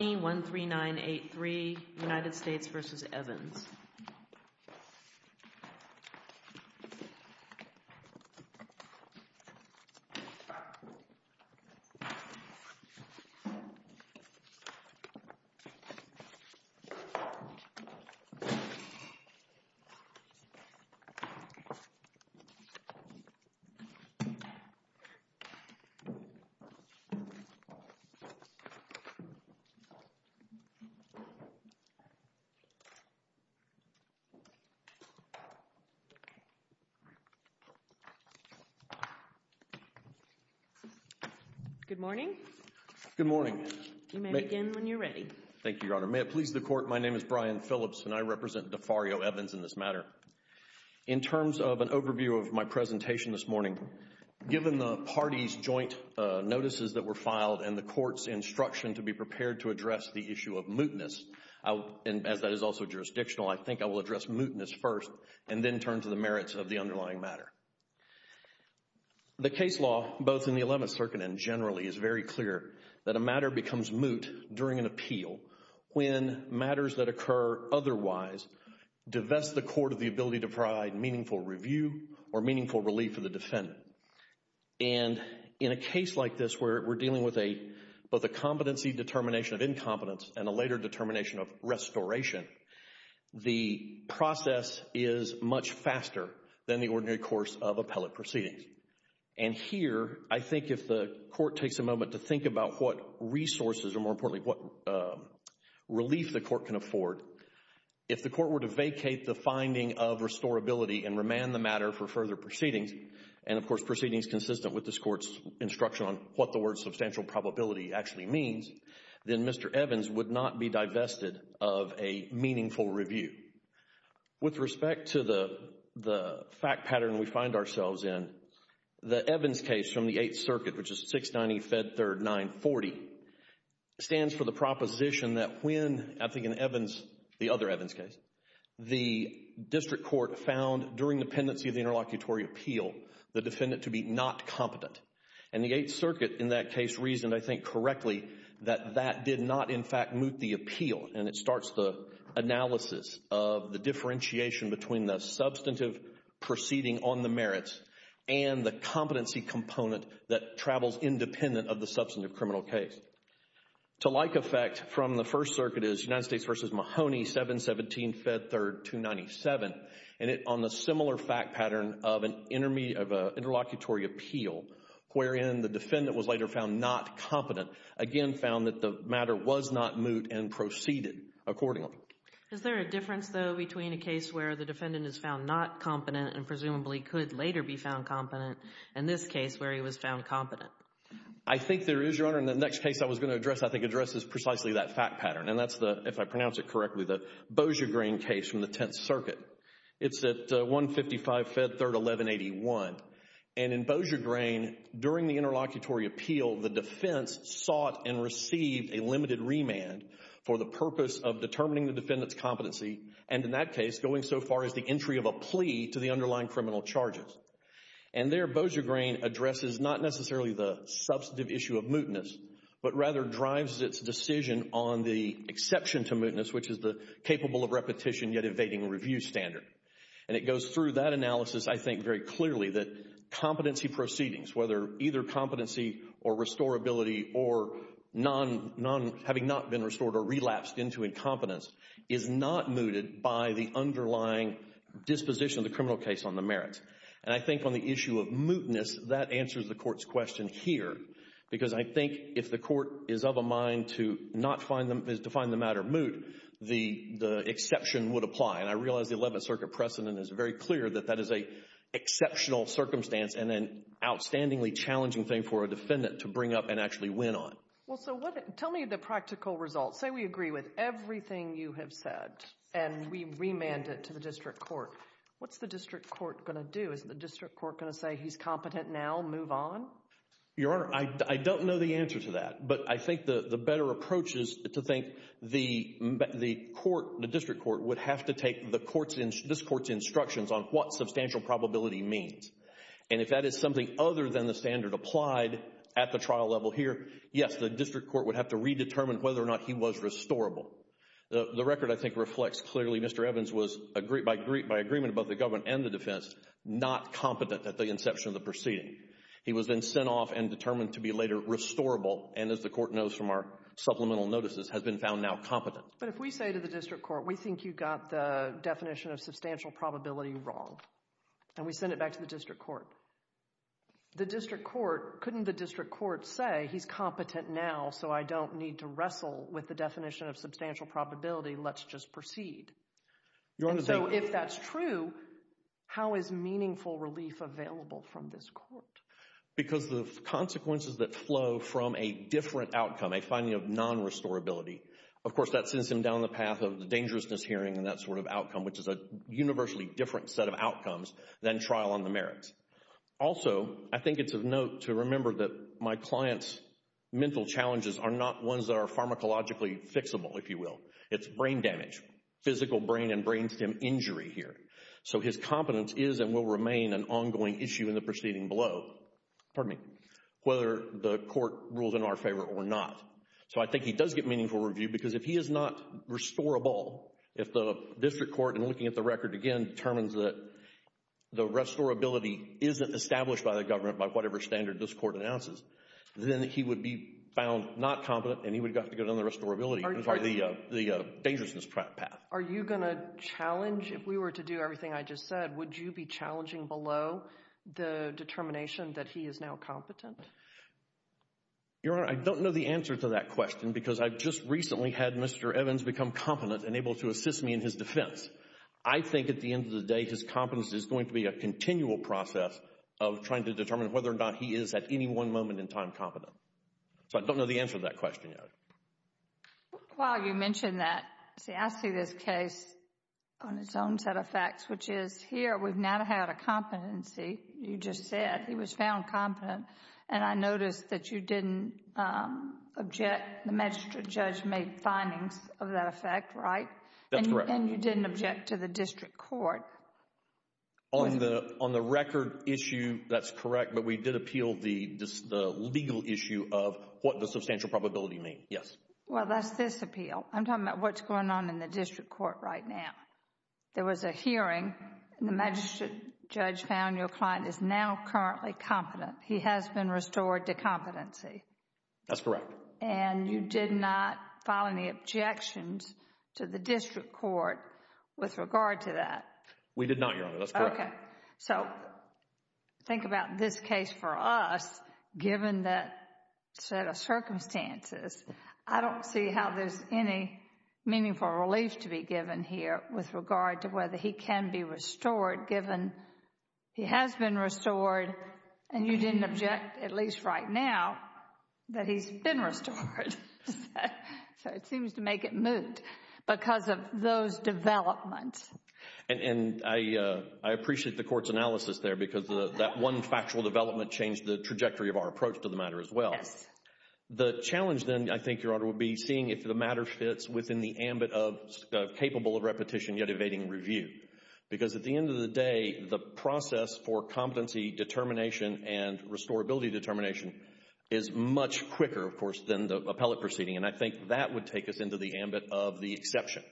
1, 3, 9, 8, 3, United States v. Evans The Court of Appeals is joined by Mr. Brian Phillips. Good morning. Good morning. You may begin when you're ready. Thank you, Your Honor. May it please the Court, my name is Brian Phillips and I represent Defario Evans in this matter. In terms of an overview of my presentation this morning, given the parties' joint notices that were filed and the Court's instruction to be prepared to address the issue of mootness, as that is also jurisdictional, I think I will address mootness first and then turn to the merits of the underlying matter. The case law, both in the 11th Circuit and generally, is very clear that a matter becomes moot during an appeal when matters that occur otherwise divest the Court of the ability to provide meaningful review or meaningful relief for the defendant. And in a case like this where we're dealing with both a competency determination of incompetence and a later determination of restoration, the process is much faster than the ordinary course of appellate proceedings. And here, I think if the Court takes a moment to think about what resources or more importantly what relief the Court can afford, if the Court were to vacate the finding of restorability and remand the matter for further proceedings, and of course proceedings consistent with this Court's instruction on what the word substantial probability actually means, then Mr. Evans would not be divested of a meaningful review. With respect to the fact pattern we find ourselves in, the Evans case from the 8th Circuit, which is 690 Fed 3rd 940, stands for the proposition that when, I think in Evans, the other Evans court found during dependency of the interlocutory appeal, the defendant to be not competent. And the 8th Circuit in that case reasoned, I think correctly, that that did not in fact moot the appeal. And it starts the analysis of the differentiation between the substantive proceeding on the merits and the competency component that travels independent of the substantive criminal case. To like effect from the 1st Circuit is United States v. Mahoney 717 Fed 3rd 297, and it on the similar fact pattern of an interlocutory appeal, wherein the defendant was later found not competent, again found that the matter was not moot and proceeded accordingly. Is there a difference though between a case where the defendant is found not competent and presumably could later be found competent, and this case where he was found competent? I think there is, Your Honor. And the next case I was going to address, I think, addresses precisely that fact pattern. And that's the, if I pronounce it correctly, the Bojagrain case from the 10th Circuit. It's at 155 Fed 3rd 1181. And in Bojagrain, during the interlocutory appeal, the defense sought and received a limited remand for the purpose of determining the defendant's competency, and in that case, going so far as the entry of a plea to the underlying criminal charges. And there, Bojagrain addresses not necessarily the substantive issue of mootness, but rather drives its decision on the exception to mootness, which is the capable of repetition yet evading review standard. And it goes through that analysis, I think, very clearly that competency proceedings, whether either competency or restorability or non, having not been restored or relapsed into incompetence, is not mooted by the underlying disposition of the criminal case on the merits. And I think on the issue of mootness, that answers the Court's question here, because I think if the Court is of a mind to not find them, to find the matter moot, the exception would apply. And I realize the 11th Circuit precedent is very clear that that is an exceptional circumstance and an outstandingly challenging thing for a defendant to bring up and actually win on. Well, so what, tell me the practical results. Say we agree with everything you have said, and we remand it to the district court, what's the district court going to do? Is the district court going to say, he's competent now, move on? Your Honor, I don't know the answer to that. But I think the better approach is to think the court, the district court, would have to take this Court's instructions on what substantial probability means. And if that is something other than the standard applied at the trial level here, yes, the district court would have to redetermine whether or not he was restorable. The record, I think, reflects clearly Mr. Evans was, by agreement of both the government and the defense, not competent at the inception of the proceeding. He was then sent off and determined to be later restorable, and as the Court knows from our supplemental notices, has been found now competent. But if we say to the district court, we think you got the definition of substantial probability wrong, and we send it back to the district court, the district court, couldn't the district court say, he's competent now, so I don't need to wrestle with the definition of substantial probability. Let's just proceed? Your Honor— And so if that's true, how is meaningful relief available from this court? Because the consequences that flow from a different outcome, a finding of non-restorability, of course that sends him down the path of the dangerousness hearing and that sort of outcome, which is a universally different set of outcomes than trial on the merits. Also, I think it's of note to remember that my client's mental challenges are not ones that are pharmacologically fixable, if you will. It's brain damage, physical brain and brain stem injury here. So his competence is and will remain an ongoing issue in the proceeding below, whether the court rules in our favor or not. So I think he does get meaningful review because if he is not restorable, if the district court, in looking at the record again, determines that the restorability isn't established by the government by whatever standard this court announces, then he would be found not competent and he would have to go down the restorability, the dangerousness path. Are you going to challenge, if we were to do everything I just said, would you be challenging below the determination that he is now competent? Your Honor, I don't know the answer to that question because I just recently had Mr. Evans become competent and able to assist me in his defense. I think at the end of the day, his competence is going to be a continual process of trying to determine whether or not he is, at any one moment in time, competent. So I don't know the answer to that question, Your Honor. While you mention that, see, I see this case on its own set of facts, which is here we've not had a competency, you just said, he was found competent. And I noticed that you didn't object, the magistrate judge made findings of that effect, right? That's correct. And you didn't object to the district court. On the record issue, that's correct, but we did appeal the legal issue of what does substantial probability mean, yes. Well, that's this appeal. I'm talking about what's going on in the district court right now. There was a hearing and the magistrate judge found your client is now currently competent. He has been restored to competency. That's correct. And you did not file any objections to the district court with regard to that? We did not, Your Honor. That's correct. Okay. So, think about this case for us, given that set of circumstances, I don't see how there's any meaningful relief to be given here with regard to whether he can be restored, given he has been restored, and you didn't object, at least right now, that he's been restored. So, it seems to make it moot because of those developments. And I appreciate the court's analysis there because that one factual development changed the trajectory of our approach to the matter as well. The challenge then, I think, Your Honor, would be seeing if the matter fits within the ambit of capable of repetition yet evading review. Because at the end of the day, the process for competency determination and restorability determination is much quicker, of course, than the appellate proceeding. And I think that would take us into the ambit of the exception.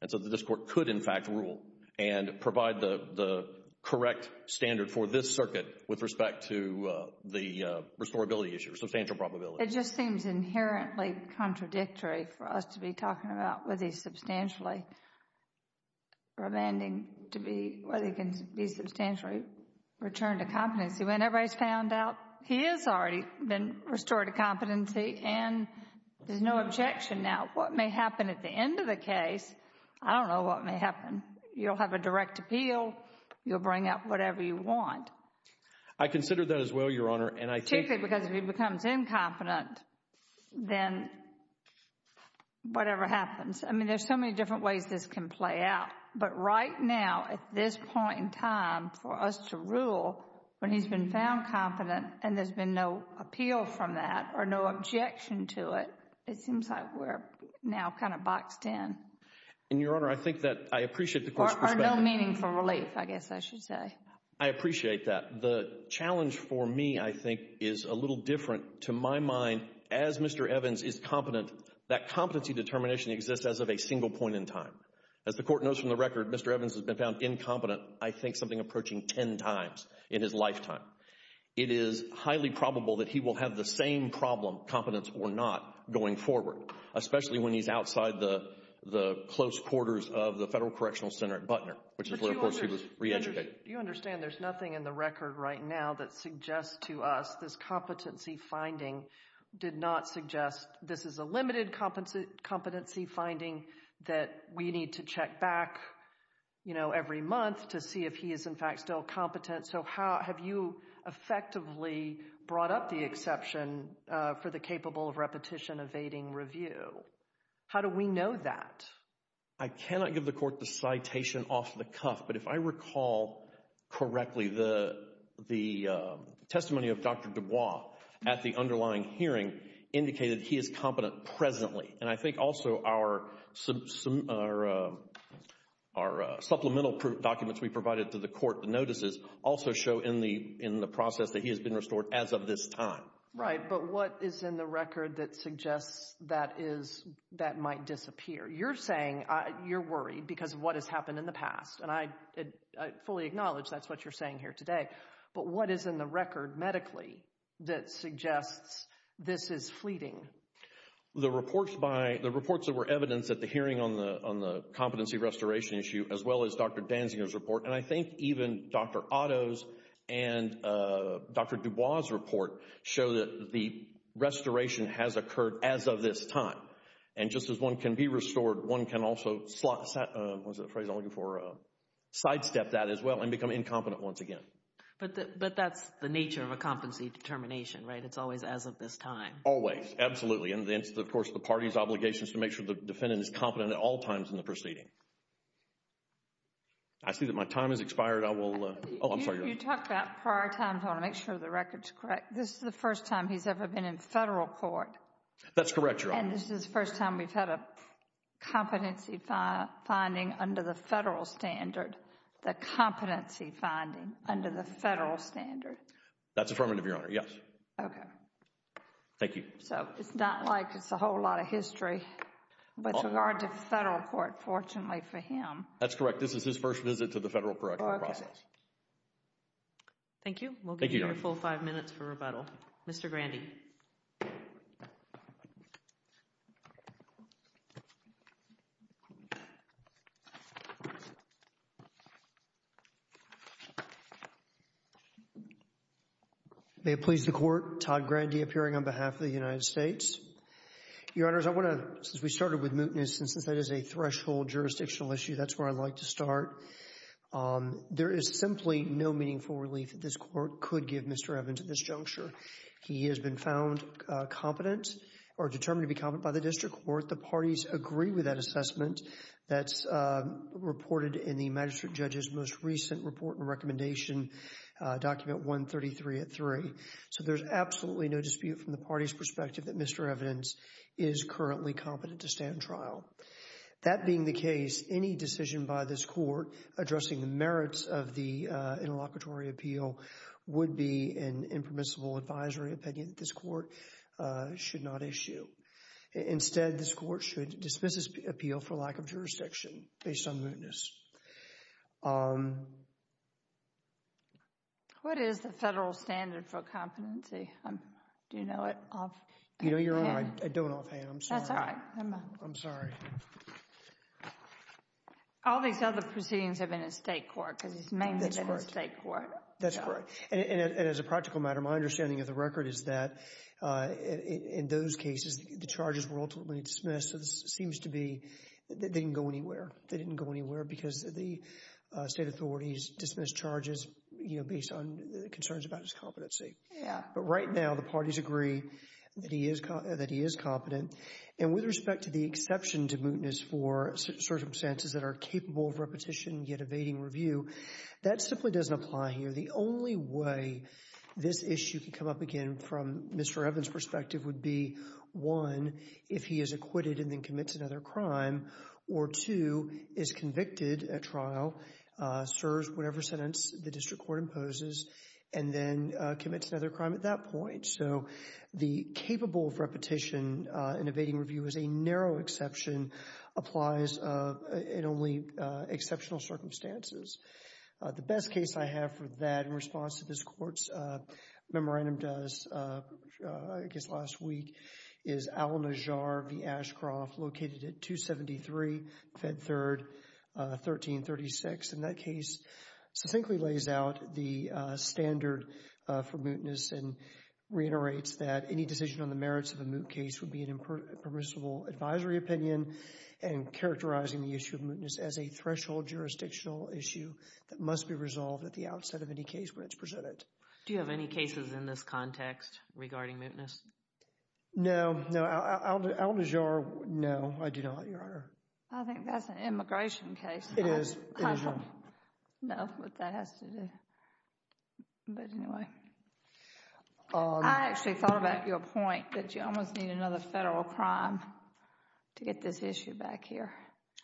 And so, the district court could, in fact, rule and provide the correct standard for this circuit with respect to the restorability issue, substantial probability. It just seems inherently contradictory for us to be talking about whether he's substantially remanding, to be, whether he can be substantially returned to competency when everybody's found out he has already been restored to competency and there's no objection now. What may happen at the end of the case, I don't know what may happen. You'll have a direct appeal. You'll bring out whatever you want. I consider that as well, Your Honor, and I think— Particularly because if he becomes incompetent, then whatever happens. I mean, there's so many different ways this can play out. But right now, at this point in time, for us to rule when he's been found competent and there's been no appeal from that or no objection to it, it seems like we're now kind of boxed in. And Your Honor, I think that I appreciate the court's perspective— Or no meaningful relief, I guess I should say. I appreciate that. The challenge for me, I think, is a little different. To my mind, as Mr. Evans is competent, that competency determination exists as of a single point in time. As the court knows from the record, Mr. Evans has been found incompetent, I think, something approaching 10 times in his lifetime. It is highly probable that he will have the same problem, competence or not, going forward, especially when he's outside the close quarters of the Federal Correctional Center at Butner, which is where, of course, he was reeducated. You understand there's nothing in the record right now that suggests to us this competency finding did not suggest this is a limited competency finding that we need to check back, you know, every month to see if he is, in fact, still competent. So have you effectively brought up the exception for the capable of repetition evading review? How do we know that? I cannot give the court the citation off the cuff, but if I recall correctly, the testimony of Dr. Dubois at the underlying hearing indicated he is competent presently. And I think also our supplemental documents we provided to the court, the notices, also show in the process that he has been restored as of this time. Right, but what is in the record that suggests that might disappear? You're saying you're worried because of what has happened in the past, and I fully acknowledge that's what you're saying here today. But what is in the record medically that suggests this is fleeting? The reports that were evidenced at the hearing on the competency restoration issue, as well as Dr. Danziger's report, and I think even Dr. Otto's and Dr. Dubois' report show that the restoration has occurred as of this time. And just as one can be restored, one can also sidestep that as well and become incompetent once again. But that's the nature of a competency determination, right? It's always as of this time. Always. Absolutely. And then, of course, the party's obligation is to make sure the defendant is competent at all times in the proceeding. I see that my time has expired. I will, oh, I'm sorry. You talked about prior time. I want to make sure the record is correct. This is the first time he's ever been in federal court. That's correct, Your Honor. And this is the first time we've had a competency finding under the federal standard, the competency finding under the federal standard. That's affirmative, Your Honor. Yes. Okay. Thank you. So it's not like it's a whole lot of history, but with regard to federal court, fortunately for him. That's correct. This is his first visit to the federal correctional process. Thank you. Thank you, Your Honor. We'll give you your full five minutes for rebuttal. Mr. Grandy. May it please the Court, Todd Grandy appearing on behalf of the United States. Your Honors, I want to, since we started with mootness and since that is a threshold jurisdictional issue, that's where I'd like to start. There is simply no meaningful relief that this Court could give Mr. Evans at this juncture. He has been found competent or determined to be competent by the district court. The parties agree with that assessment that's reported in the magistrate judge's most recent report and recommendation document 133 at 3. So there's absolutely no dispute from the party's perspective that Mr. Evans is currently competent to stand trial. That being the case, any decision by this Court addressing the merits of the interlocutory appeal would be an impermissible advisory opinion that this Court should not issue. Instead, this Court should dismiss this appeal for lack of jurisdiction based on mootness. What is the federal standard for competency? Do you know it? You know, Your Honor, I don't offhand. I'm sorry. That's all right. Never mind. I'm sorry. All these other proceedings have been in state court because it's mainly been in state court. That's correct. And as a practical matter, my understanding of the record is that in those cases, the charges were ultimately dismissed. So this seems to be they didn't go anywhere. They didn't go anywhere because the state authorities dismissed charges, you know, based on concerns about his competency. Yeah. But right now, the parties agree that he is competent. That simply doesn't apply here. The only way this issue could come up again from Mr. Evans' perspective would be, one, if he is acquitted and then commits another crime, or two, is convicted at trial, serves whatever sentence the district court imposes, and then commits another crime at that point. So the capable of repetition in evading review is a narrow exception, applies in only exceptional circumstances. The best case I have for that in response to this Court's memorandum does, I guess last week, is Al-Najjar v. Ashcroft, located at 273 Fed 3rd, 1336, and that case succinctly lays out the standard for mootness and reiterates that any decision on the merits of a moot case would be a permissible advisory opinion and characterizing the issue of mootness as a threshold jurisdictional issue that must be resolved at the outset of any case where it's presented. Do you have any cases in this context regarding mootness? No. No. Al-Najjar, no. I do not, Your Honor. I think that's an immigration case. It is. It is, Your Honor. I don't know what that has to do. But anyway. I actually thought about your point that you almost need another federal crime to get this issue back here.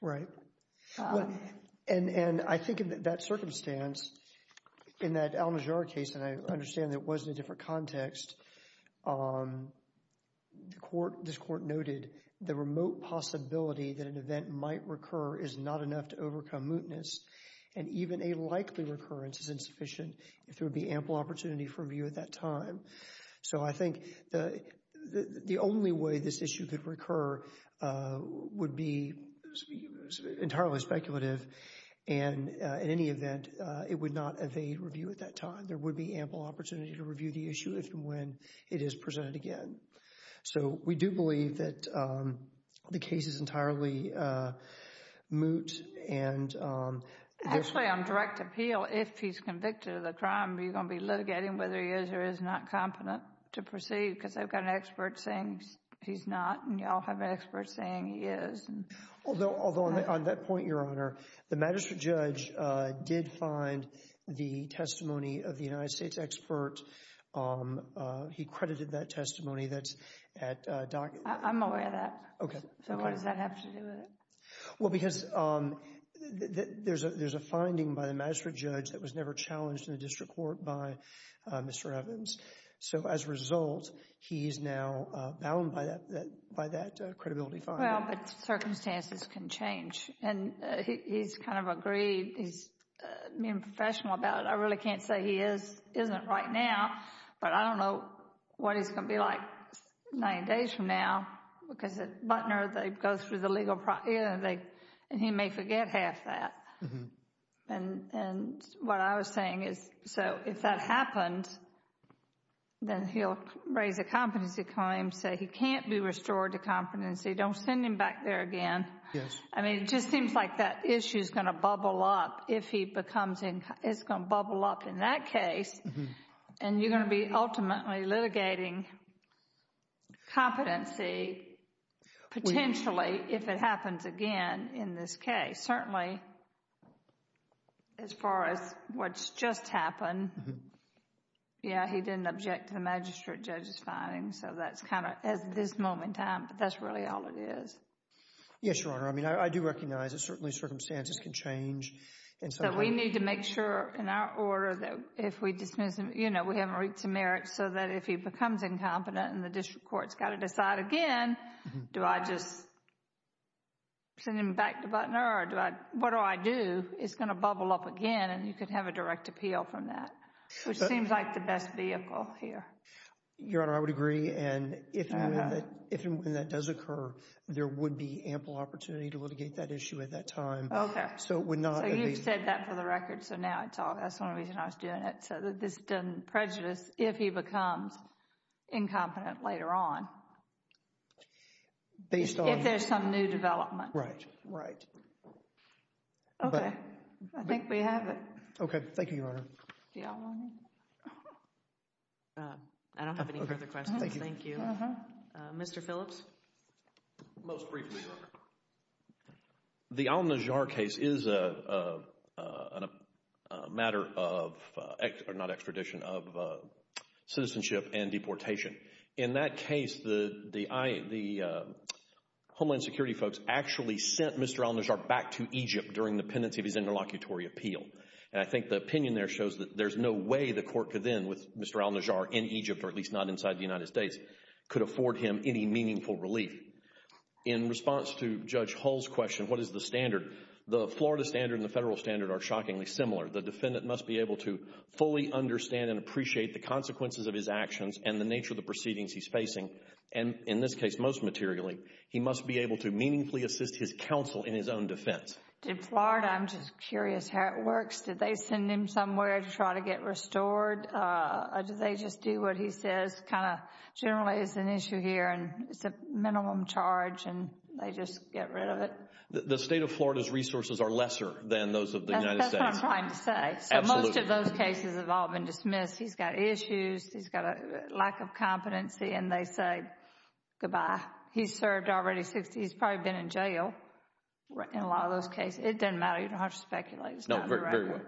Right. And I think in that circumstance, in that Al-Najjar case, and I understand that it was in a different context, the Court, this Court noted the remote possibility that an event might recur is not enough to overcome mootness and even a likely recurrence is insufficient if there would be ample opportunity for review at that time. So I think the only way this issue could recur would be entirely speculative, and in any event, it would not evade review at that time. There would be ample opportunity to review the issue if and when it is presented again. So we do believe that the case is entirely moot and— Actually, on direct appeal, if he's convicted of the crime, are you going to be litigating whether he is or is not competent to proceed? Because I've got an expert saying he's not, and you all have an expert saying he is. Although on that point, Your Honor, the magistrate judge did find the testimony of the United States expert. He credited that testimony that's at Doc— I'm aware of that. Okay. Okay. So what does that have to do with it? Well, because there's a finding by the magistrate judge that was never challenged in the District Court by Mr. Evans. So as a result, he's now bound by that credibility finding. Well, but circumstances can change, and he's kind of agreed, he's being professional about it. I really can't say he isn't right now, but I don't know what he's going to be like nine days from now, because at Butner, they go through the legal process, and he may forget half that. And what I was saying is, so if that happens, then he'll raise a competency claim, say he can't be restored to competency, don't send him back there again. Yes. I mean, it just seems like that issue is going to bubble up if he becomes in—it's going to bubble up in that case, and you're going to be ultimately litigating competency potentially if it happens again in this case. But certainly, as far as what's just happened, yeah, he didn't object to the magistrate judge's finding, so that's kind of at this moment in time, but that's really all it is. Yes, Your Honor. I mean, I do recognize that certainly circumstances can change, and so— So we need to make sure in our order that if we dismiss him, you know, we haven't reached a merit so that if he becomes incompetent and the District Court's got to decide again, do I just send him back to Butner, or do I—what do I do? It's going to bubble up again, and you could have a direct appeal from that, which seems like the best vehicle here. Your Honor, I would agree, and if and when that does occur, there would be ample opportunity to litigate that issue at that time. Okay. So it would not— So you've said that for the record, so now I talk—that's one reason I was doing it, so that this doesn't prejudice if he becomes incompetent later on. Based on— If there's some new development. Right. Right. Okay. I think we have it. Okay. Thank you, Your Honor. Do y'all want to— I don't have any further questions. Thank you. Mr. Phillips? Most briefly, Your Honor, the Al-Najjar case is a matter of—or not extradition, of citizenship and deportation. In that case, the Homeland Security folks actually sent Mr. Al-Najjar back to Egypt during the pendency of his interlocutory appeal, and I think the opinion there shows that there's no way the court could then, with Mr. Al-Najjar in Egypt, or at least not inside the United States, could afford him any meaningful relief. In response to Judge Hull's question, what is the standard, the Florida standard and the federal standard are shockingly similar. The defendant must be able to fully understand and appreciate the consequences of his actions and the nature of the proceedings he's facing, and in this case, most materially, he must be able to meaningfully assist his counsel in his own defense. Did Florida—I'm just curious how it works. Did they send him somewhere to try to get restored, or do they just do what he says kind of generally is an issue here, and it's a minimum charge, and they just get rid of it? The state of Florida's resources are lesser than those of the United States. That's what I'm trying to say. Absolutely. So most of those cases have all been dismissed. He's got issues. He's got a lack of competency, and they say goodbye. He's served already 60—he's probably been in jail in a lot of those cases. It doesn't matter. You don't have to speculate. No, very well.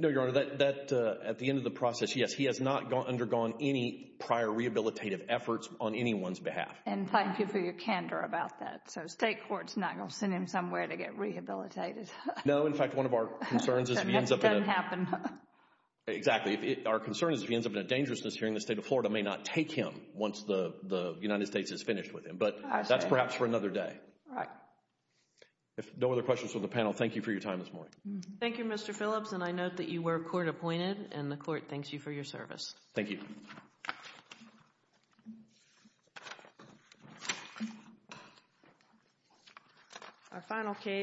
No, Your Honor, that, at the end of the process, yes, he has not undergone any prior rehabilitative efforts on anyone's behalf. And thank you for your candor about that. So state court's not going to send him somewhere to get rehabilitated. No. In fact, one of our concerns is if he ends up in a— That doesn't happen. Exactly. Our concern is if he ends up in a dangerousness hearing, the state of Florida may not take him once the United States is finished with him. But that's perhaps for another day. Right. If no other questions from the panel, thank you for your time this morning. Thank you, Mr. Phillips, and I note that you were court-appointed, and the court thanks you for your service. Thank you. Our final case.